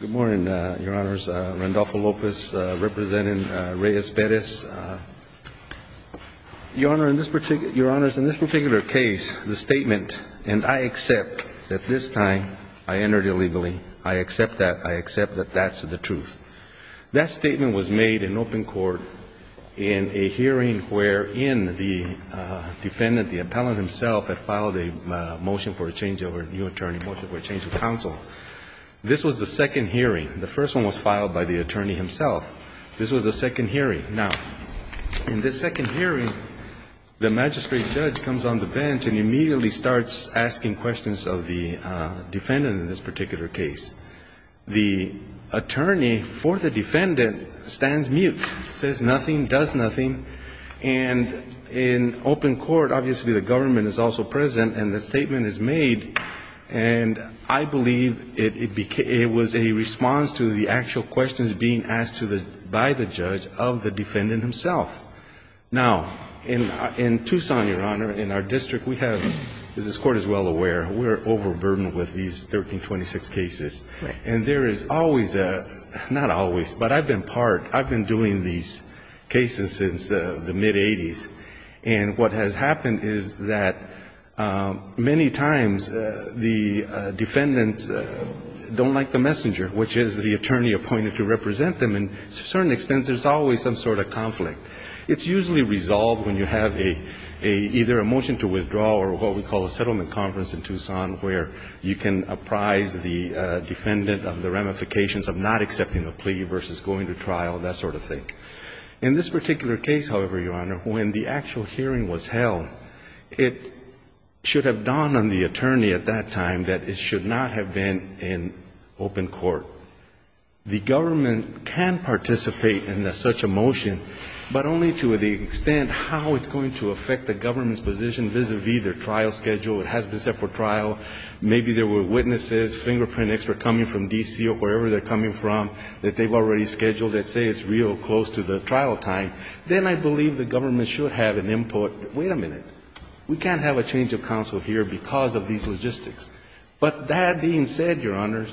Your Honor, in this particular case, the statement, and I accept that this time, I entered illegally, I accept that, I accept that that's the truth. That statement was made in open court in a hearing wherein the defendant, the appellant himself, had filed a motion for a changeover, new attorney, motion for a change of counsel. This was the second hearing. The first one was filed by the attorney himself. This was the second hearing. Now, in this second hearing, the magistrate judge comes on the bench and immediately starts asking questions of the defendant in this particular case. The attorney for the defendant stands mute, says nothing, does nothing. And in open court, obviously, the government is also present, and the statement is made, and I believe it was a response to the actual questions being asked by the judge of the defendant himself. Now, in Tucson, Your Honor, in our district, we have, as this Court is well aware, we are overburdened with these 1326 cases. And there is always a, not always, but I've been part, I've been doing these cases since the mid-'80s, and what has happened is that many times the defendants don't like the messenger, which is the attorney appointed to represent them, and to a certain extent, there's always some sort of conflict. It's usually resolved when you have a, either a motion to withdraw or what we call a settlement conference in Tucson where you can apprise the defendant of the ramifications of not accepting a plea versus going to trial, that sort of thing. In this particular case, however, Your Honor, when the actual hearing was held, it should have dawned on the attorney at that time that it should not have been in open court. The government can participate in such a motion, but only to the extent how it's going to affect the government's position vis-à-vis their trial schedule, it has been set for trial. Maybe there were witnesses, fingerprint experts coming from D.C. or wherever they're coming from that they've already scheduled that say it's real close to the trial time, then I believe the government should have an input, wait a minute, we can't have a change of counsel here because of these logistics, but that being said, Your Honors,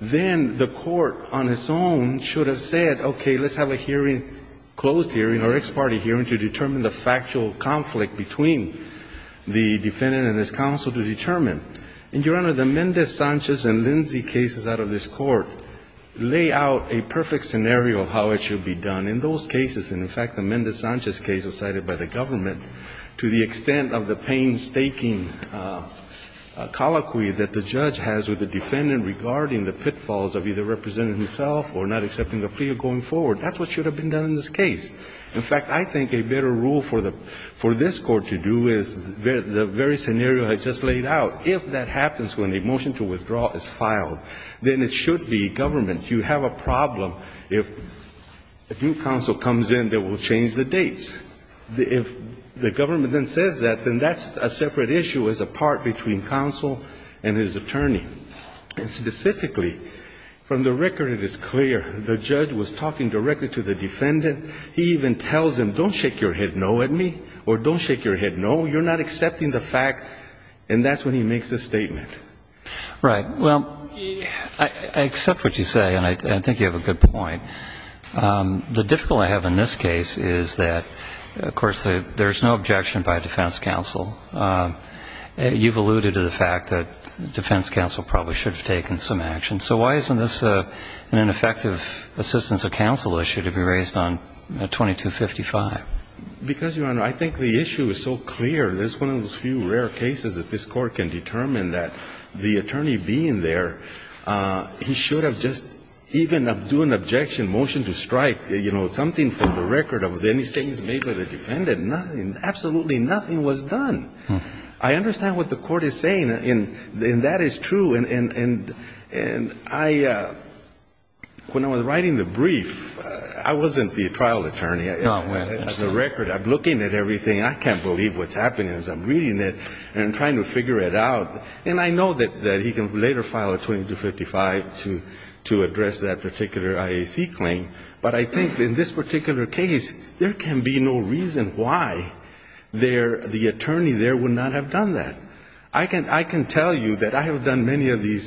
then the court on its own should have said, okay, let's have a hearing, closed hearing or ex parte hearing to determine the factual conflict between the defendant and his counsel to determine. And, Your Honor, the Mendez-Sanchez and Lindsay cases out of this Court lay out a perfect scenario of how it should be done. In those cases, and in fact the Mendez-Sanchez case was cited by the government, to the extent of the painstaking colloquy that the judge has with the defendant regarding the pitfalls of either representing himself or not accepting a plea or going forward, that's what should have been done in this case. In fact, I think a better rule for this Court to do is the very scenario I just laid out. If that happens when a motion to withdraw is filed, then it should be government. You have a problem if a new counsel comes in that will change the dates. If the government then says that, then that's a separate issue as a part between counsel and his attorney. And specifically, from the record it is clear the judge was talking directly to the defendant. He even tells him, don't shake your head no at me, or don't shake your head no. You're not accepting the fact, and that's when he makes the statement. Right, well, I accept what you say, and I think you have a good point. The difficulty I have in this case is that, of course, there's no objection by defense counsel. You've alluded to the fact that defense counsel probably should have taken some action. And so why isn't this an ineffective assistance of counsel issue to be raised on 2255? Because, Your Honor, I think the issue is so clear. There's one of those few rare cases that this Court can determine that the attorney being there, he should have just even do an objection motion to strike, you know, something from the record of any statements made by the defendant. Absolutely nothing was done. I understand what the Court is saying, and that is true. And I, when I was writing the brief, I wasn't the trial attorney. No, I understand. As a record, I'm looking at everything. I can't believe what's happening as I'm reading it, and I'm trying to figure it out. And I know that he can later file a 2255 to address that particular IAC claim. But I think in this particular case, there can be no reason why the attorney there would not have done that. I can tell you that I have done many of these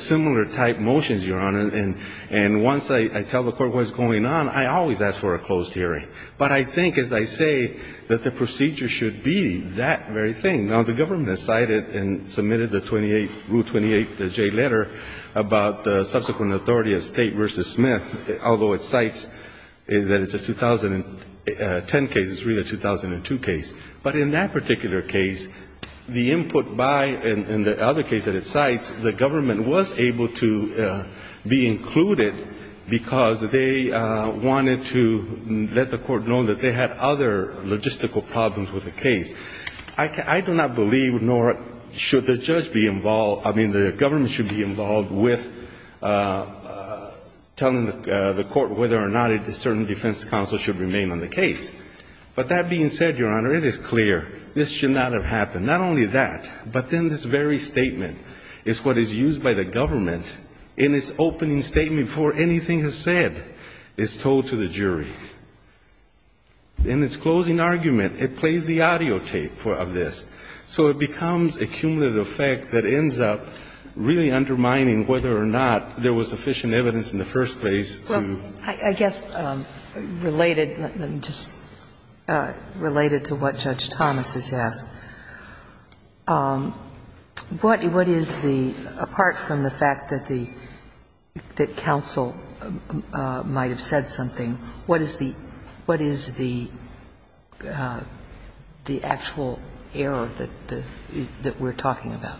similar type motions, Your Honor, and once I tell the Court what's going on, I always ask for a closed hearing. But I think, as I say, that the procedure should be that very thing. Now, the government has cited and submitted the 28, Rule 28J letter about the subsequent authority of State v. Smith, although it cites that it's a 2010 case, it's really a 2002 case. But in that particular case, the input by, in the other case that it cites, the government was able to be included because they wanted to let the court know that they had other logistical problems with the case. I do not believe, nor should the judge be involved, I mean, the government should be involved with telling the court whether or not a certain defense counsel should remain on the case. But that being said, Your Honor, it is clear this should not have happened. Not only that, but then this very statement is what is used by the government in its opening statement before anything is said is told to the jury. In its closing argument, it plays the audio tape of this. So it becomes a cumulative effect that ends up really undermining whether or not I guess, related, just related to what Judge Thomas has asked, what is the, apart from the fact that the, that counsel might have said something, what is the, what is the, the actual error that, that we're talking about?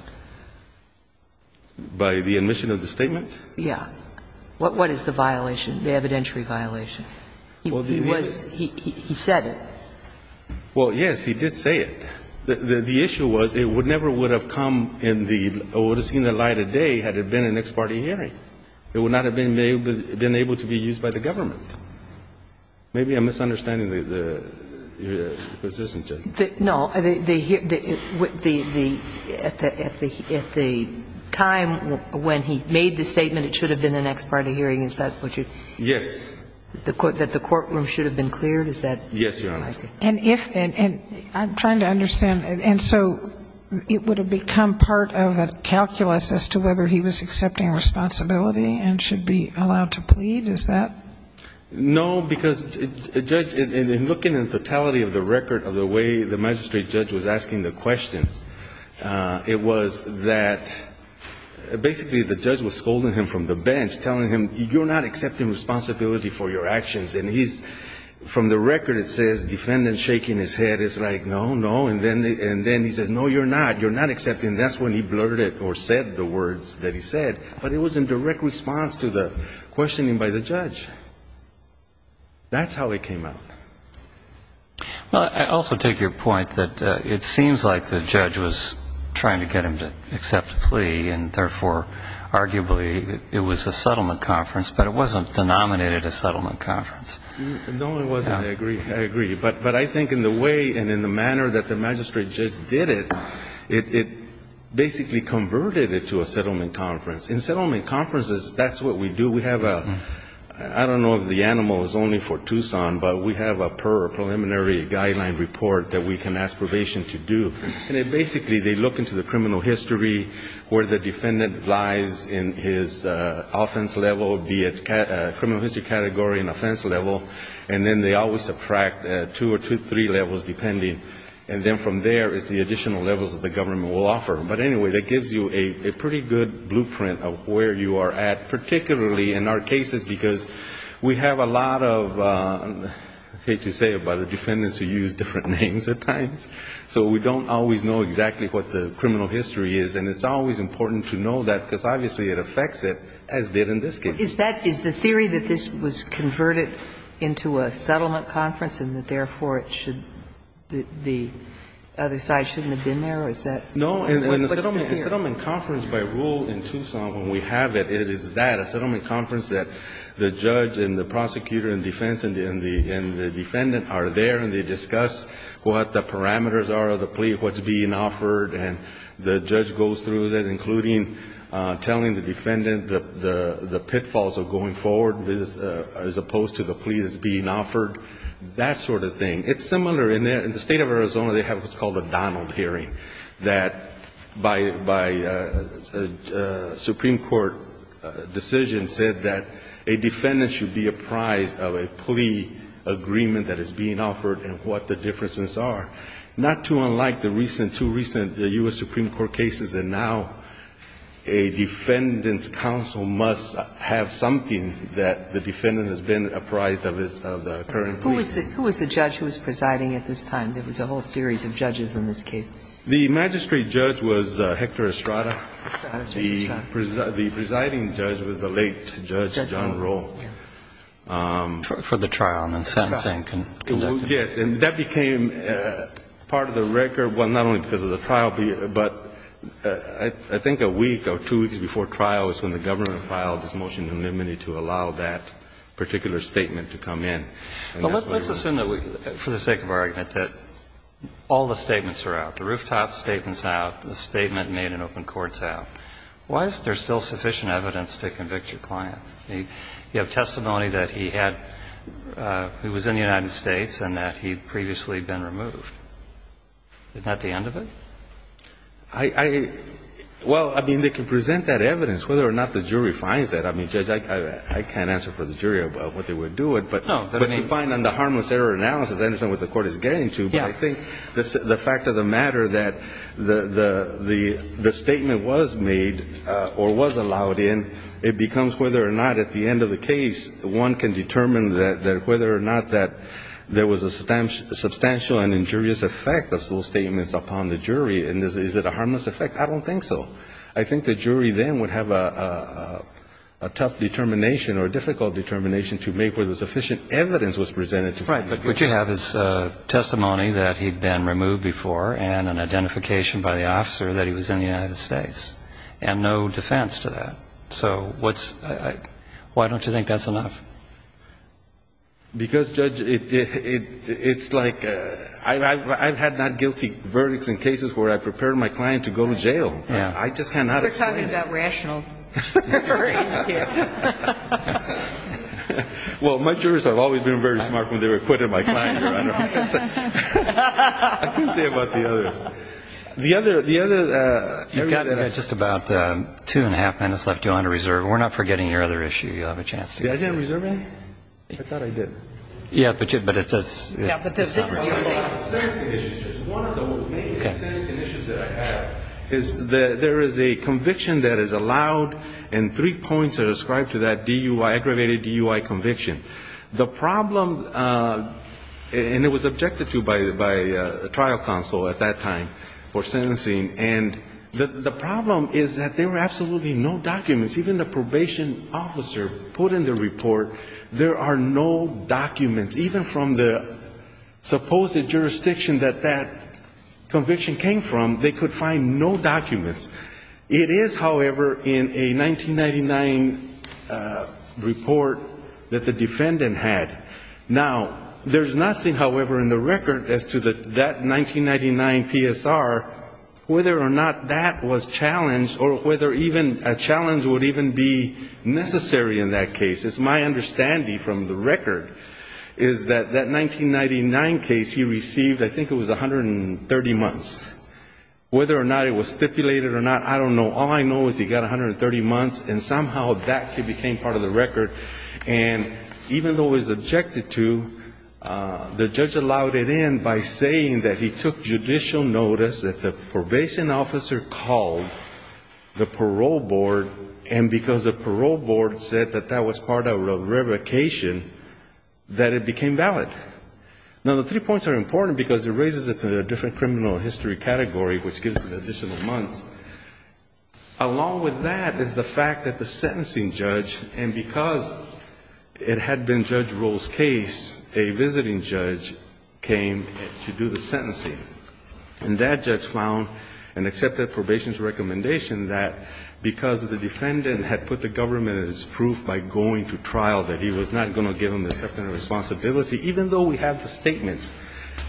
By the omission of the statement? Yeah. What is the violation, the evidentiary violation? He was, he said it. Well, yes, he did say it. The issue was it never would have come in the, or would have seen the light of day had it been an ex parte hearing. It would not have been able to be used by the government. Maybe I'm misunderstanding the position, Judge. No. The, the, at the time when he made the statement, it should have been an ex parte hearing, is that what you? Yes. That the courtroom should have been cleared, is that what you're asking? Yes, Your Honor. And if, and I'm trying to understand, and so it would have become part of a calculus as to whether he was accepting responsibility and should be allowed to plead, is that? No, because, Judge, in looking at the totality of the record of the way the magistrate judge was asking the questions, it was that, basically the judge was scolding him from the bench, telling him, you're not accepting responsibility for your actions. And he's, from the record it says, defendant shaking his head. It's like, no, no. And then, and then he says, no, you're not. You're not accepting. That's when he blurted it, or said the words that he said. But it was in direct response to the questioning by the judge. That's how it came out. Well, I also take your point that it seems like the judge was trying to get him to accept a plea, and therefore, arguably, it was a settlement conference. But it wasn't denominated a settlement conference. No, it wasn't. I agree. I agree. But I think in the way and in the manner that the magistrate judge did it, it basically converted it to a settlement conference. In settlement conferences, that's what we do. We have a, I don't know if the animal is only for Tucson, but we have a per preliminary guideline report that we can ask probation to do. And it basically, they look into the criminal history, where the defendant lies in his offense level, be it criminal history category and offense level. And then they always subtract two or three levels depending. And then from there, it's the additional levels that the government will offer. But anyway, that gives you a pretty good blueprint of where you are at, particularly in our cases, because we have a lot of, I hate to say it, but the defendants who use different names at times. So we don't always know exactly what the criminal history is. And it's always important to know that, because obviously it affects it, as did in this case. Is that, is the theory that this was converted into a settlement conference and that therefore it should, the other side shouldn't have been there? Or is that? No, in a settlement conference by rule in Tucson, when we have it, it is that, a settlement conference that the judge and the prosecutor and defense and the defendant are there and they discuss what the parameters are of the plea, what's being offered. And the judge goes through that, including telling the defendant the pitfalls of going forward as opposed to the plea that's being offered, that sort of thing. It's similar in the state of Arizona. They have what's called a Donald hearing, that by a Supreme Court decision said that a defendant should be apprised of a plea agreement that is being offered and what the differences are. Not too unlike the recent, two recent U.S. Supreme Court cases, and now a defendant's counsel must have something that the defendant has been apprised of, of the current plea. Who was the judge who was presiding at this time? There was a whole series of judges in this case. The magistrate judge was Hector Estrada. Estrada, Judge Estrada. The presiding judge was the late Judge John Rowe. For the trial, and then sentencing conducted. Yes. And that became part of the record, well, not only because of the trial, but I think a week or two weeks before trial is when the government filed this motion of nominee to allow that particular statement to come in. And that's what it was. Well, let's assume that we, for the sake of argument, that all the statements are out. The rooftop statement's out. The statement made in open court's out. Why is there still sufficient evidence to convict your client? You have testimony that he had, he was in the United States and that he'd previously been removed. Isn't that the end of it? I, I, well, I mean, they can present that evidence. Whether or not the jury finds that, I mean, Judge, I can't answer for the jury about what they would do it, but. No. But to find on the harmless error analysis, I understand what the court is getting to, but I think the fact of the matter that the statement was made or was allowed in, it becomes whether or not at the end of the case, one can determine that whether or not that there was a substantial and injurious effect of those statements upon the jury. And is it a harmless effect? I don't think so. I think the jury then would have a tough determination or a difficult determination to make whether sufficient evidence was presented to convict. Right. But would you have his testimony that he'd been removed before and an identification by the officer that he was in the United States and no defense to that? So what's, why don't you think that's enough? Because, Judge, it, it, it's like, I, I, I've had not guilty verdicts in cases where I've prepared my client to go to jail. Yeah. I just cannot explain. We're talking about rational juries here. Well, my jurors have always been very smart when they were acquitted by client. I can say about the others. The other, the other, uh, you've got just about, um, two and a half minutes left. Do you want to reserve? We're not forgetting your other issue. You'll have a chance to. I didn't reserve any? I thought I did. Yeah, but you, but it's, it's. Yeah, but this is your thing. One of the main dissenting issues that I have is that there is a conviction that is described to that DUI, aggravated DUI conviction. The problem, uh, and it was objected to by, by, uh, trial counsel at that time for sentencing, and the, the problem is that there were absolutely no documents. Even the probation officer put in the report, there are no documents, even from the supposed jurisdiction that that conviction came from, they could find no documents. It is, however, in a 1999, uh, report that the defendant had. Now, there's nothing, however, in the record as to the, that 1999 PSR, whether or not that was challenged or whether even a challenge would even be necessary in that case. It's my understanding from the record is that that 1999 case he received, I think it was 130 months, whether or not it was stipulated or not, I don't know. All I know is he got 130 months and somehow that became part of the record. And even though it was objected to, uh, the judge allowed it in by saying that he took judicial notice that the probation officer called the parole board and because the parole board said that that was part of revocation, that it became valid. Now, the three points are important because it raises it to a different criminal history category, which gives an additional month. Along with that is the fact that the sentencing judge, and because it had been Judge Rowe's case, a visiting judge came to do the sentencing. And that judge found and accepted probation's recommendation that because the defendant had put the government in its proof by going to trial, that he was not going to give him the acceptance of responsibility, even though we have the statements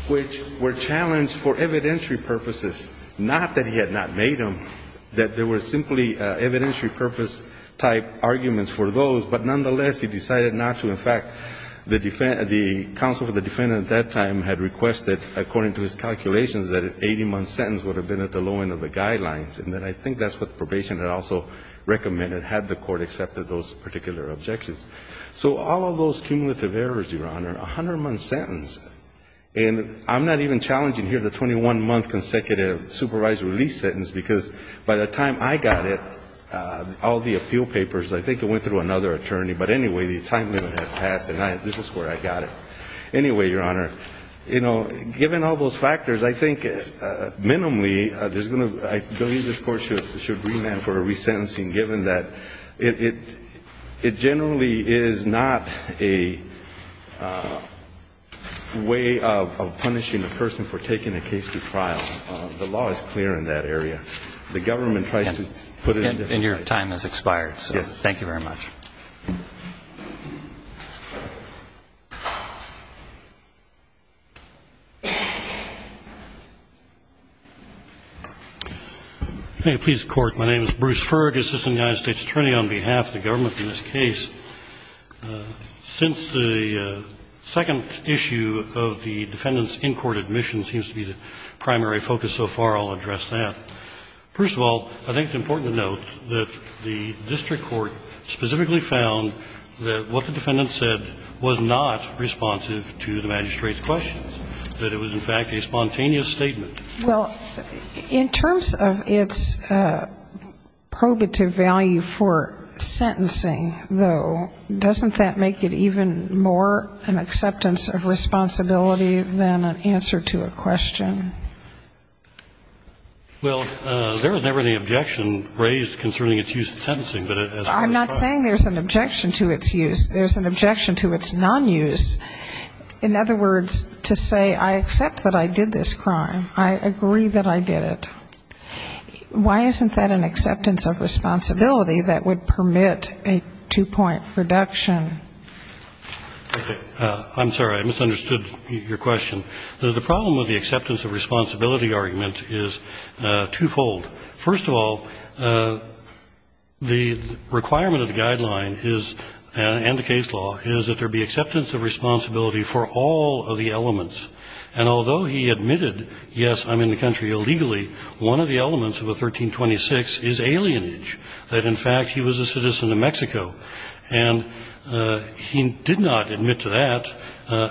which were challenged for evidentiary purposes, not that he had not made them, that there were simply evidentiary purpose type arguments for those, but nonetheless, he decided not to. In fact, the defense, the counsel for the defendant at that time had requested, according to his calculations, that an 80-month sentence would have been at the low end of the guidelines. And then I think that's what probation had also recommended, had the Court accepted those particular objections. So all of those cumulative errors, Your Honor, a 100-month sentence, and I'm not even challenging here the 21-month consecutive supervised release sentence, because by the time I got it, all the appeal papers, I think it went through another attorney, but anyway, the time limit had passed, and this is where I got it. Anyway, Your Honor, you know, given all those factors, I think minimally, there's I believe this Court should remand for a resentencing, given that it generally is not a way of punishing a person for taking a case to trial. The law is clear in that area. The government tries to put it in a different way. And your time has expired, so thank you very much. Bruce Ferg, Assistant United States Attorney, on behalf of the government in this case. Since the second issue of the defendant's in-court admission seems to be the primary focus so far, I'll address that. First of all, I think it's important to note that the district court specifically found that what the defendant said was not responsive to the magistrate's questions, that it was, in fact, a spontaneous statement. Well, in terms of its probative value for sentencing, though, doesn't that make it even more an acceptance of responsibility than an answer to a question? Well, there was never any objection raised concerning its use in sentencing, but as far as crime. I'm not saying there's an objection to its use. There's an objection to its nonuse. In other words, to say, I accept that I did this crime, I agree that I did it. Why isn't that an acceptance of responsibility that would permit a two-point reduction? I'm sorry. I misunderstood your question. The problem with the acceptance of responsibility argument is twofold. First of all, the requirement of the guideline is, and the case law, is that there be acceptance of responsibility for all of the elements, and although he admitted, yes, I'm in the country illegally, one of the elements of a 1326 is alienage, that, in fact, he was a citizen of Mexico, and he did not admit to that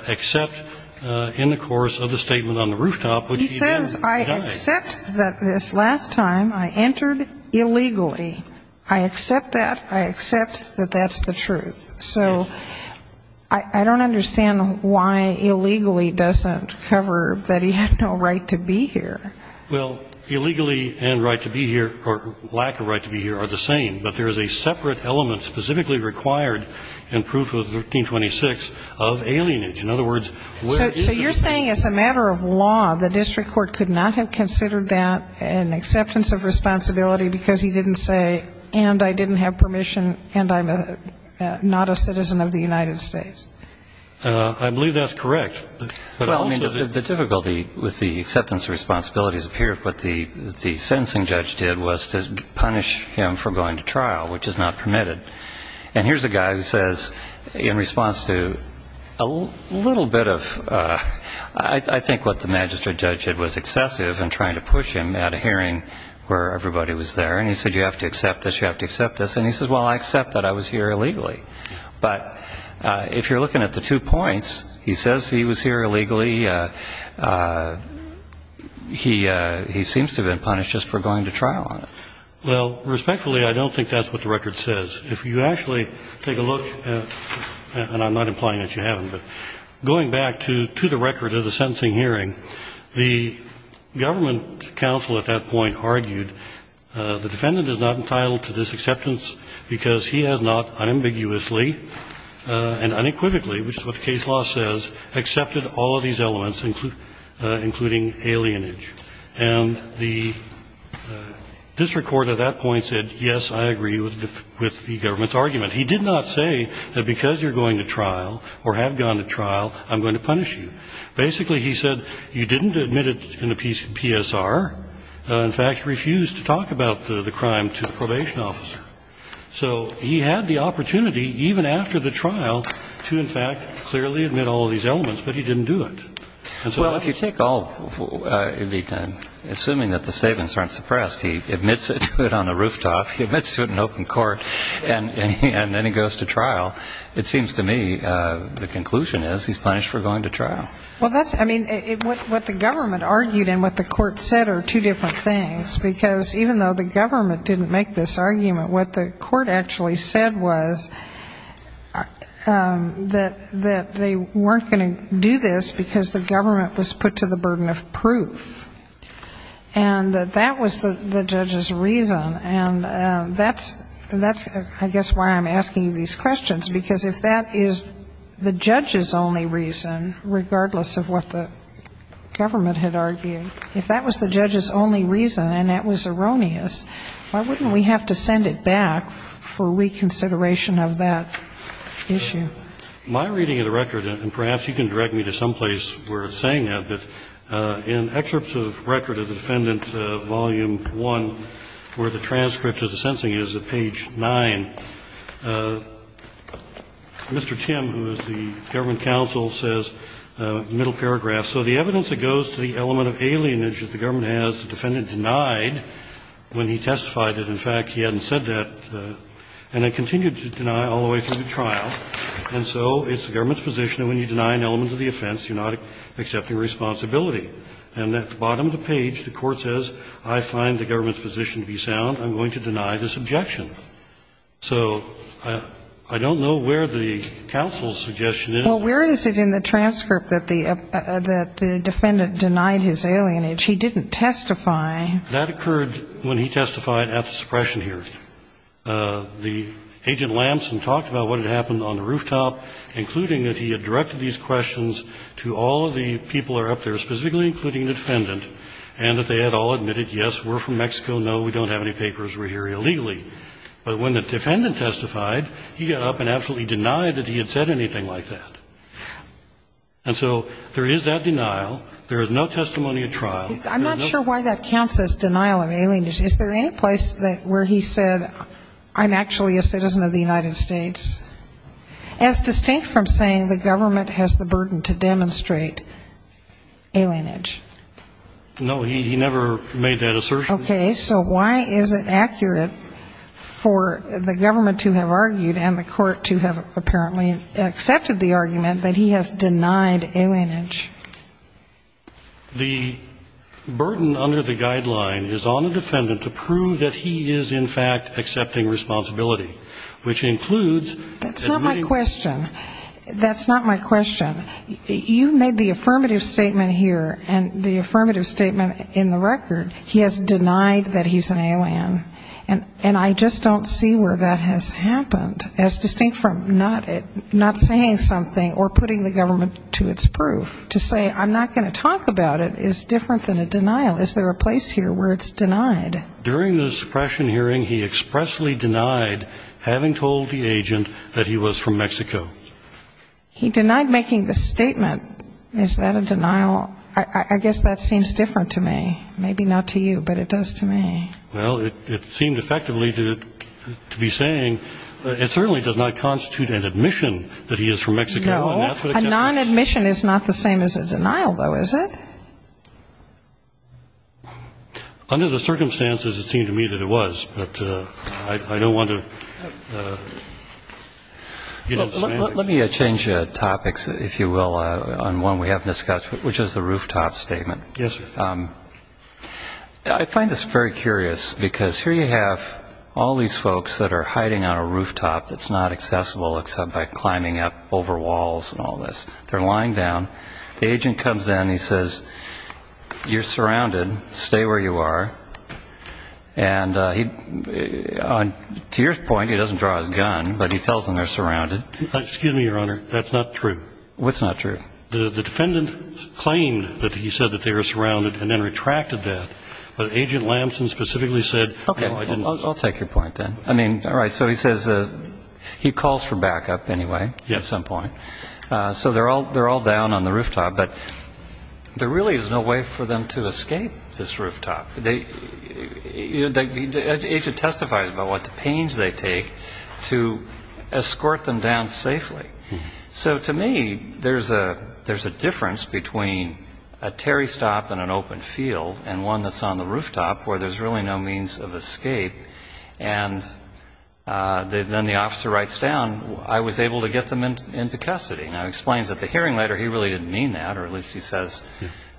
except in the course of the statement on the rooftop, which he did. He says, I accept that this last time I entered illegally. I accept that. I accept that that's the truth. So I don't understand why illegally doesn't cover that he had no right to be here. Well, illegally and right to be here, or lack of right to be here, are the same, but there is a separate element specifically required in proof of 1326 of alienage. In other words, where is the... So you're saying as a matter of law, the district court could not have considered that an acceptance of responsibility because he didn't say, and I didn't have permission, and I'm not a citizen of the United States? I believe that's correct. But also... Well, I mean, the difficulty with the acceptance of responsibility is, apparently, what the sentencing judge did was to punish him for going to trial, which is not permitted. And here's a guy who says, in response to a little bit of, I think what the magistrate judge did was excessive in trying to push him at a hearing where everybody was there. And he said, you have to accept this. You have to accept this. And he says, well, I accept that I was here illegally. But if you're looking at the two points, he says he was here illegally. He seems to have been punished just for going to trial on it. Well, respectfully, I don't think that's what the record says. If you actually take a look at, and I'm not implying that you haven't, but going back to the record of the sentencing hearing, the government counsel at that point argued the defendant is not entitled to this acceptance because he has not unambiguously and unequivocally, which is what the case law says, accepted all of these elements, including alienage. And the district court at that point said, yes, I agree with the government's argument. He did not say that because you're going to trial or have gone to trial, I'm going to punish you. Basically, he said, you didn't admit it in the PSR. In fact, you refused to talk about the crime to the probation officer. So he had the opportunity, even after the trial, to, in fact, clearly admit all of these elements, but he didn't do it. Well, if you take all, assuming that the statements aren't suppressed, he admits it to it on the rooftop, he admits to it in open court, and then he goes to trial, it seems to me the conclusion is he's punished for going to trial. Well, that's, I mean, what the government argued and what the court said are two different things, because even though the government didn't make this argument, what the court actually said was that they weren't going to do this because the government was put to the burden of proof. And that that was the judge's reason, and that's, I guess, why I'm asking these questions, because if that is the judge's only reason, regardless of what the government had argued, if that was the judge's only reason and that was erroneous, why wouldn't we have to send it back for reconsideration of that issue? My reading of the record, and perhaps you can direct me to someplace where it's saying that, but in excerpts of record of the defendant, volume 1, where the transcript of the sentencing is at page 9, Mr. Tim, who is the government counsel, says, middle paragraph, so the evidence that goes to the element of alienage that the government has, the defendant denied when he testified that, in fact, he hadn't said that, and then continued to deny all the way through the trial. And so it's the government's position that when you deny an element of the offense, you're not accepting responsibility. And at the bottom of the page, the court says, I find the government's position to be sound. I'm going to deny this objection. So I don't know where the counsel's suggestion is. Well, where is it in the transcript that the defendant denied his alienage? He didn't testify. That occurred when he testified at the suppression hearing. The agent Lampson talked about what had happened on the rooftop, including that he had directed these questions to all of the people that were up there, specifically including the defendant, and that they had all admitted, yes, we're from Mexico, no, we don't have any papers, we're here illegally. But when the defendant testified, he got up and absolutely denied that he had said anything like that. And so there is that denial. There is no testimony at trial. I'm not sure why that counts as denial of alienage. Is there any place where he said, I'm actually a citizen of the United States? As distinct from saying the government has the burden to demonstrate alienage. No, he never made that assertion. Okay, so why is it accurate for the government to have argued and the court to have apparently accepted the argument that he has denied alienage? The burden under the guideline is on the defendant to prove that he is in fact accepting responsibility, which includes. That's not my question. That's not my question. You made the affirmative statement here and the affirmative statement in the record. He has denied that he's an alien. And I just don't see where that has happened as distinct from not saying something or to say, I'm not going to talk about it is different than a denial. Is there a place here where it's denied? During the suppression hearing, he expressly denied having told the agent that he was from Mexico. He denied making the statement. Is that a denial? I guess that seems different to me. Maybe not to you, but it does to me. Well, it seemed effectively to be saying it certainly does not constitute an admission that he is from Mexico. A non-admission is not the same as a denial, though, is it? Under the circumstances, it seemed to me that it was, but I don't want to get into specifics. Let me change topics, if you will, on one we haven't discussed, which is the rooftop statement. Yes, sir. I find this very curious because here you have all these folks that are hiding on a rooftop that's not accessible except by climbing up over walls. They're lying down. The agent comes in. He says, you're surrounded. Stay where you are. And to your point, he doesn't draw his gun, but he tells them they're surrounded. Excuse me, Your Honor. That's not true. What's not true? The defendant claimed that he said that they were surrounded and then retracted that. But Agent Lamson specifically said, no, I didn't. I'll take your point then. I mean, all right. So he says he calls for backup anyway at some point. So they're all down on the rooftop. But there really is no way for them to escape this rooftop. The agent testifies about what pains they take to escort them down safely. So to me, there's a difference between a Terry stop and an open field and one that's on the rooftop where there's really no means of escape. And then the officer writes down, I was able to get them into custody. Now, he explains that the hearing letter, he really didn't mean that, or at least he says,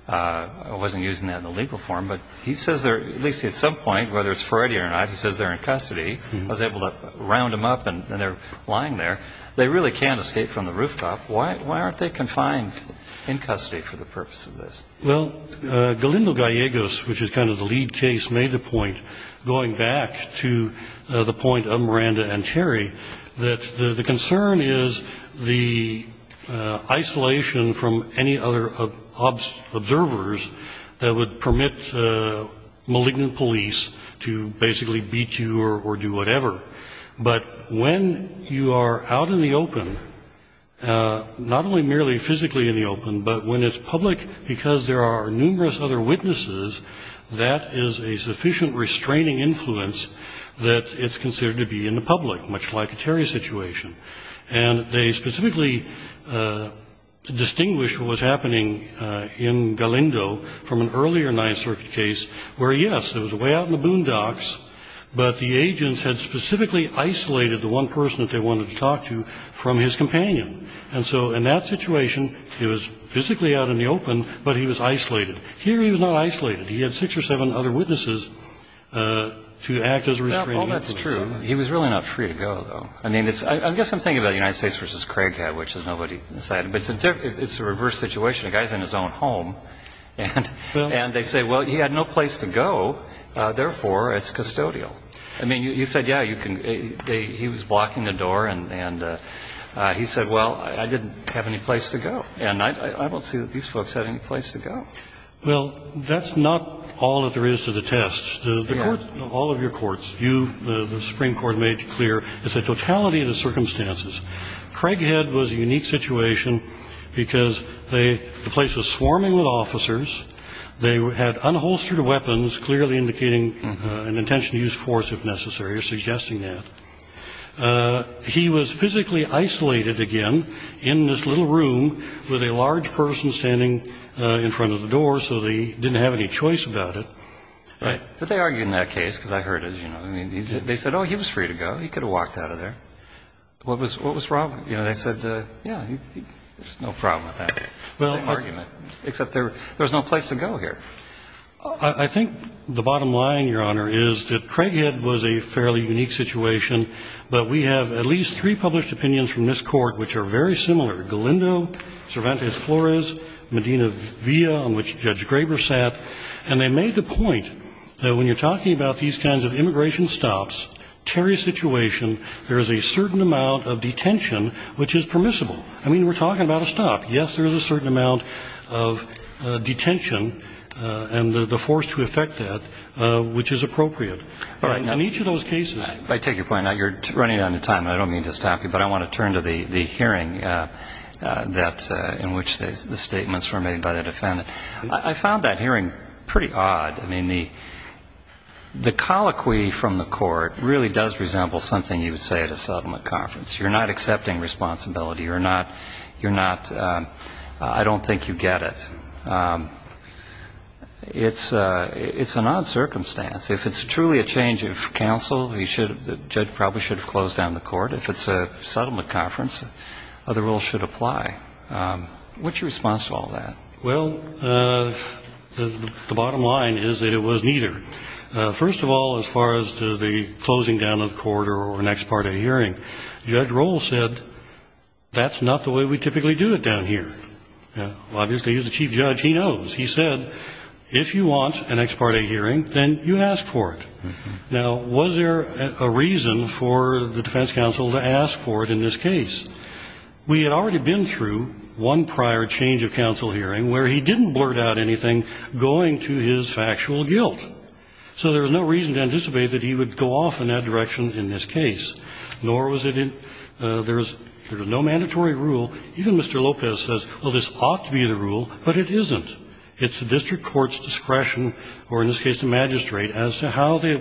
I wasn't using that in the legal form. But he says, at least at some point, whether it's Friday or not, he says they're in custody. I was able to round them up, and they're lying there. They really can't escape from the rooftop. Why aren't they confined in custody for the purpose of this? Well, Galindo Gallegos, which is kind of the lead case, made the point, going back to the point of Miranda and Terry, that the concern is the isolation from any other observers that would permit malignant police to basically beat you or do whatever. But when you are out in the open, not only merely physically in the open, but when it's public because there are numerous other witnesses, that is a sufficient restraining influence that it's considered to be in the public, much like a Terry situation. And they specifically distinguished what was happening in Galindo from an earlier Ninth Circuit case where, yes, there was a way out in the boondocks, but the agents had specifically isolated the one person that they wanted to talk to from his companion. And so in that situation, he was physically out in the open, but he was isolated. Here, he was not isolated. He had six or seven other witnesses to act as a restraining influence. Well, that's true. He was really not free to go, though. I mean, I guess I'm thinking about United States v. Craighead, which is nobody inside. But it's a reverse situation. The guy is in his own home, and they say, well, he had no place to go, therefore, it's custodial. I mean, you said, yeah, you can – he was blocking the door, and he said, well, I didn't have any place to go. And I don't see that these folks had any place to go. Well, that's not all that there is to the test. All of your courts, you, the Supreme Court, made clear it's a totality of the circumstances. Craighead was a unique situation because they – the place was swarming with officers. They had unholstered weapons, clearly indicating an intention to use force, if necessary, or suggesting that. He was physically isolated again in this little room with a large person standing in front of the door, so they didn't have any choice about it. But they argued in that case, because I heard it, you know. I mean, they said, oh, he was free to go. He could have walked out of there. What was Rob – you know, they said, yeah, there's no problem with that, same argument, except there was no place to go here. I think the bottom line, Your Honor, is that Craighead was a fairly unique situation. But we have at least three published opinions from this Court which are very similar, Galindo, Cervantes-Flores, Medina-Villa, on which Judge Graber sat. And they made the point that when you're talking about these kinds of immigration stops, Terry's situation, there is a certain amount of detention which is permissible. I mean, we're talking about a stop. Yes, there is a certain amount of detention and the force to affect that which is appropriate. In each of those cases – I take your point. Now, you're running out of time, and I don't mean to stop you, but I want to turn to the hearing that – in which the statements were made by the defendant. I found that hearing pretty odd. I mean, the colloquy from the Court really does resemble something you would say at a settlement conference. You're not accepting responsibility. You're not – you're not – I don't think you get it. It's an odd circumstance. If it's truly a change of counsel, the judge probably should have closed down the Court. If it's a settlement conference, other rules should apply. What's your response to all that? Well, the bottom line is that it was neither. First of all, as far as the closing down of the court or an ex parte hearing, Judge Rohl said that's not the way we typically do it down here. Obviously, he's the chief judge. He knows. He said, if you want an ex parte hearing, then you ask for it. Now, was there a reason for the defense counsel to ask for it in this case? We had already been through one prior change of counsel hearing where he didn't blurt out anything going to his factual guilt, so there was no reason to anticipate that he would go off in that direction in this case, nor was it in – there was no mandatory rule. Even Mr. Lopez says, well, this ought to be the rule, but it isn't. It's the district court's discretion, or in this case the magistrate, as to how they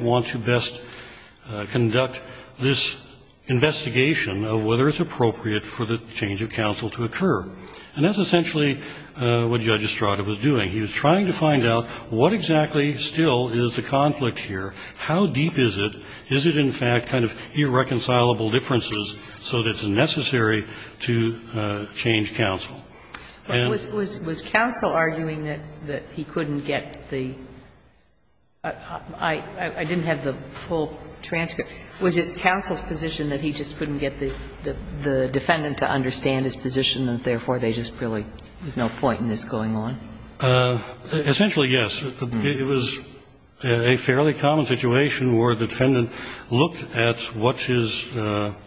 And that's essentially what Judge Estrada was doing. He was trying to find out what exactly still is the conflict here. How deep is it? Is it, in fact, kind of irreconcilable differences so that it's necessary to change counsel? And the reason he didn't go off in that direction in this case, nor was it in this case the district court's discretion, or in this case the magistrate, as to how they Essentially, yes. It was a fairly common situation where the defendant looked at what his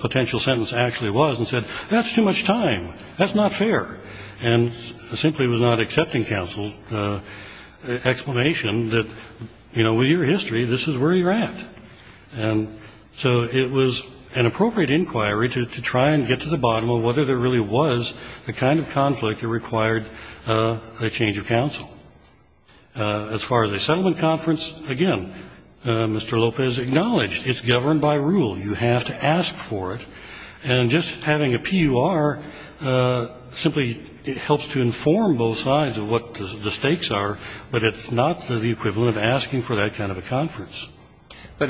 potential sentence actually was and said, that's too much time. That's not fair. And simply was not accepting counsel's explanation that, you know, with your history, this is where you're at. And so it was an appropriate inquiry to try and get to the bottom of this. And it was an appropriate inquiry to try and get to the bottom of whether there really was the kind of conflict that required a change of counsel. As far as the settlement conference, again, Mr. Lopez acknowledged it's governed by rule. You have to ask for it. And just having a PUR simply helps to inform both sides of what the stakes are, but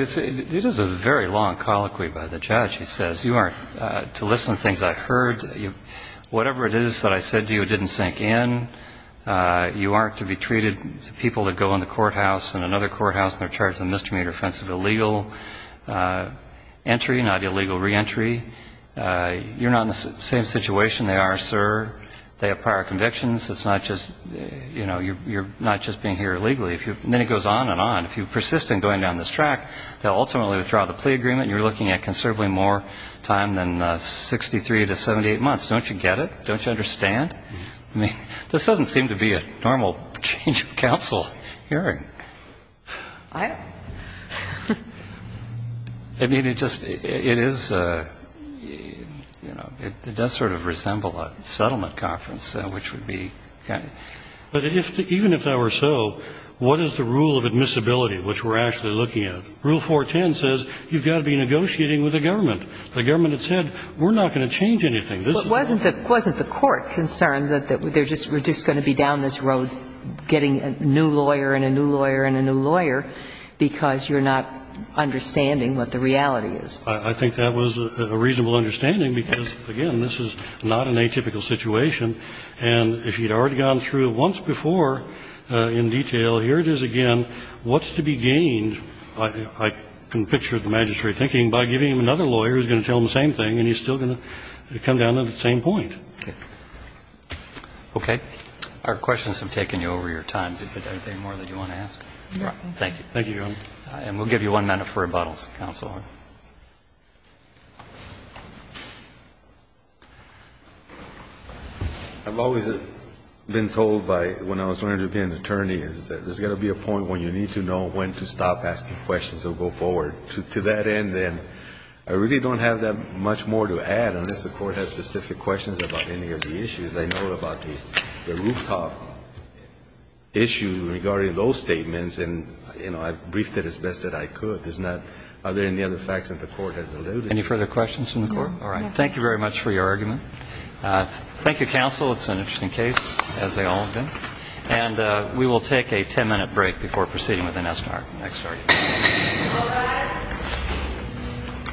It is a very long colloquy by the judge. He says, you aren't to listen to things I heard. Whatever it is that I said to you didn't sink in. You aren't to be treated, people that go in the courthouse and another courthouse and they're charged with a misdemeanor offense of illegal entry, not illegal reentry. You're not in the same situation they are, sir. They have prior convictions. It's not just, you know, you're not just being here illegally. And then it goes on and on. If you persist in going down this track, they'll ultimately withdraw the plea agreement and you're looking at considerably more time than 63 to 78 months. Don't you get it? Don't you understand? I mean, this doesn't seem to be a normal change of counsel hearing. I mean, it just, it is, you know, it does sort of resemble a settlement conference, which would be kind of. But even if that were so, what is the rule of admissibility which we're actually looking at? Rule 410 says you've got to be negotiating with the government. The government had said we're not going to change anything. This is. But wasn't the court concerned that they're just going to be down this road getting a new lawyer and a new lawyer and a new lawyer because you're not understanding what the reality is? I think that was a reasonable understanding because, again, this is not an atypical situation. And if you'd already gone through it once before in detail, here it is again. What's to be gained, I can picture the magistrate thinking, by giving him another lawyer who's going to tell him the same thing and he's still going to come down to the same point. Okay. Okay. Our questions have taken you over your time. Is there anything more that you want to ask? Nothing. Thank you. Thank you, Your Honor. And we'll give you one minute for rebuttals, Counselor. I've always been told by when I was learning to be an attorney is that there's got to be a point when you need to know when to stop asking questions or go forward to that end. And I really don't have that much more to add unless the Court has specific questions about any of the issues. I know about the rooftop issue regarding those statements, and, you know, I briefed it as best that I could. But it's not other than the other facts that the Court has alluded to. Any further questions from the Court? No. All right. Thank you very much for your argument. Thank you, Counsel. It's an interesting case, as they all have been. And we will take a ten-minute break before proceeding with the next argument. Hello, guys.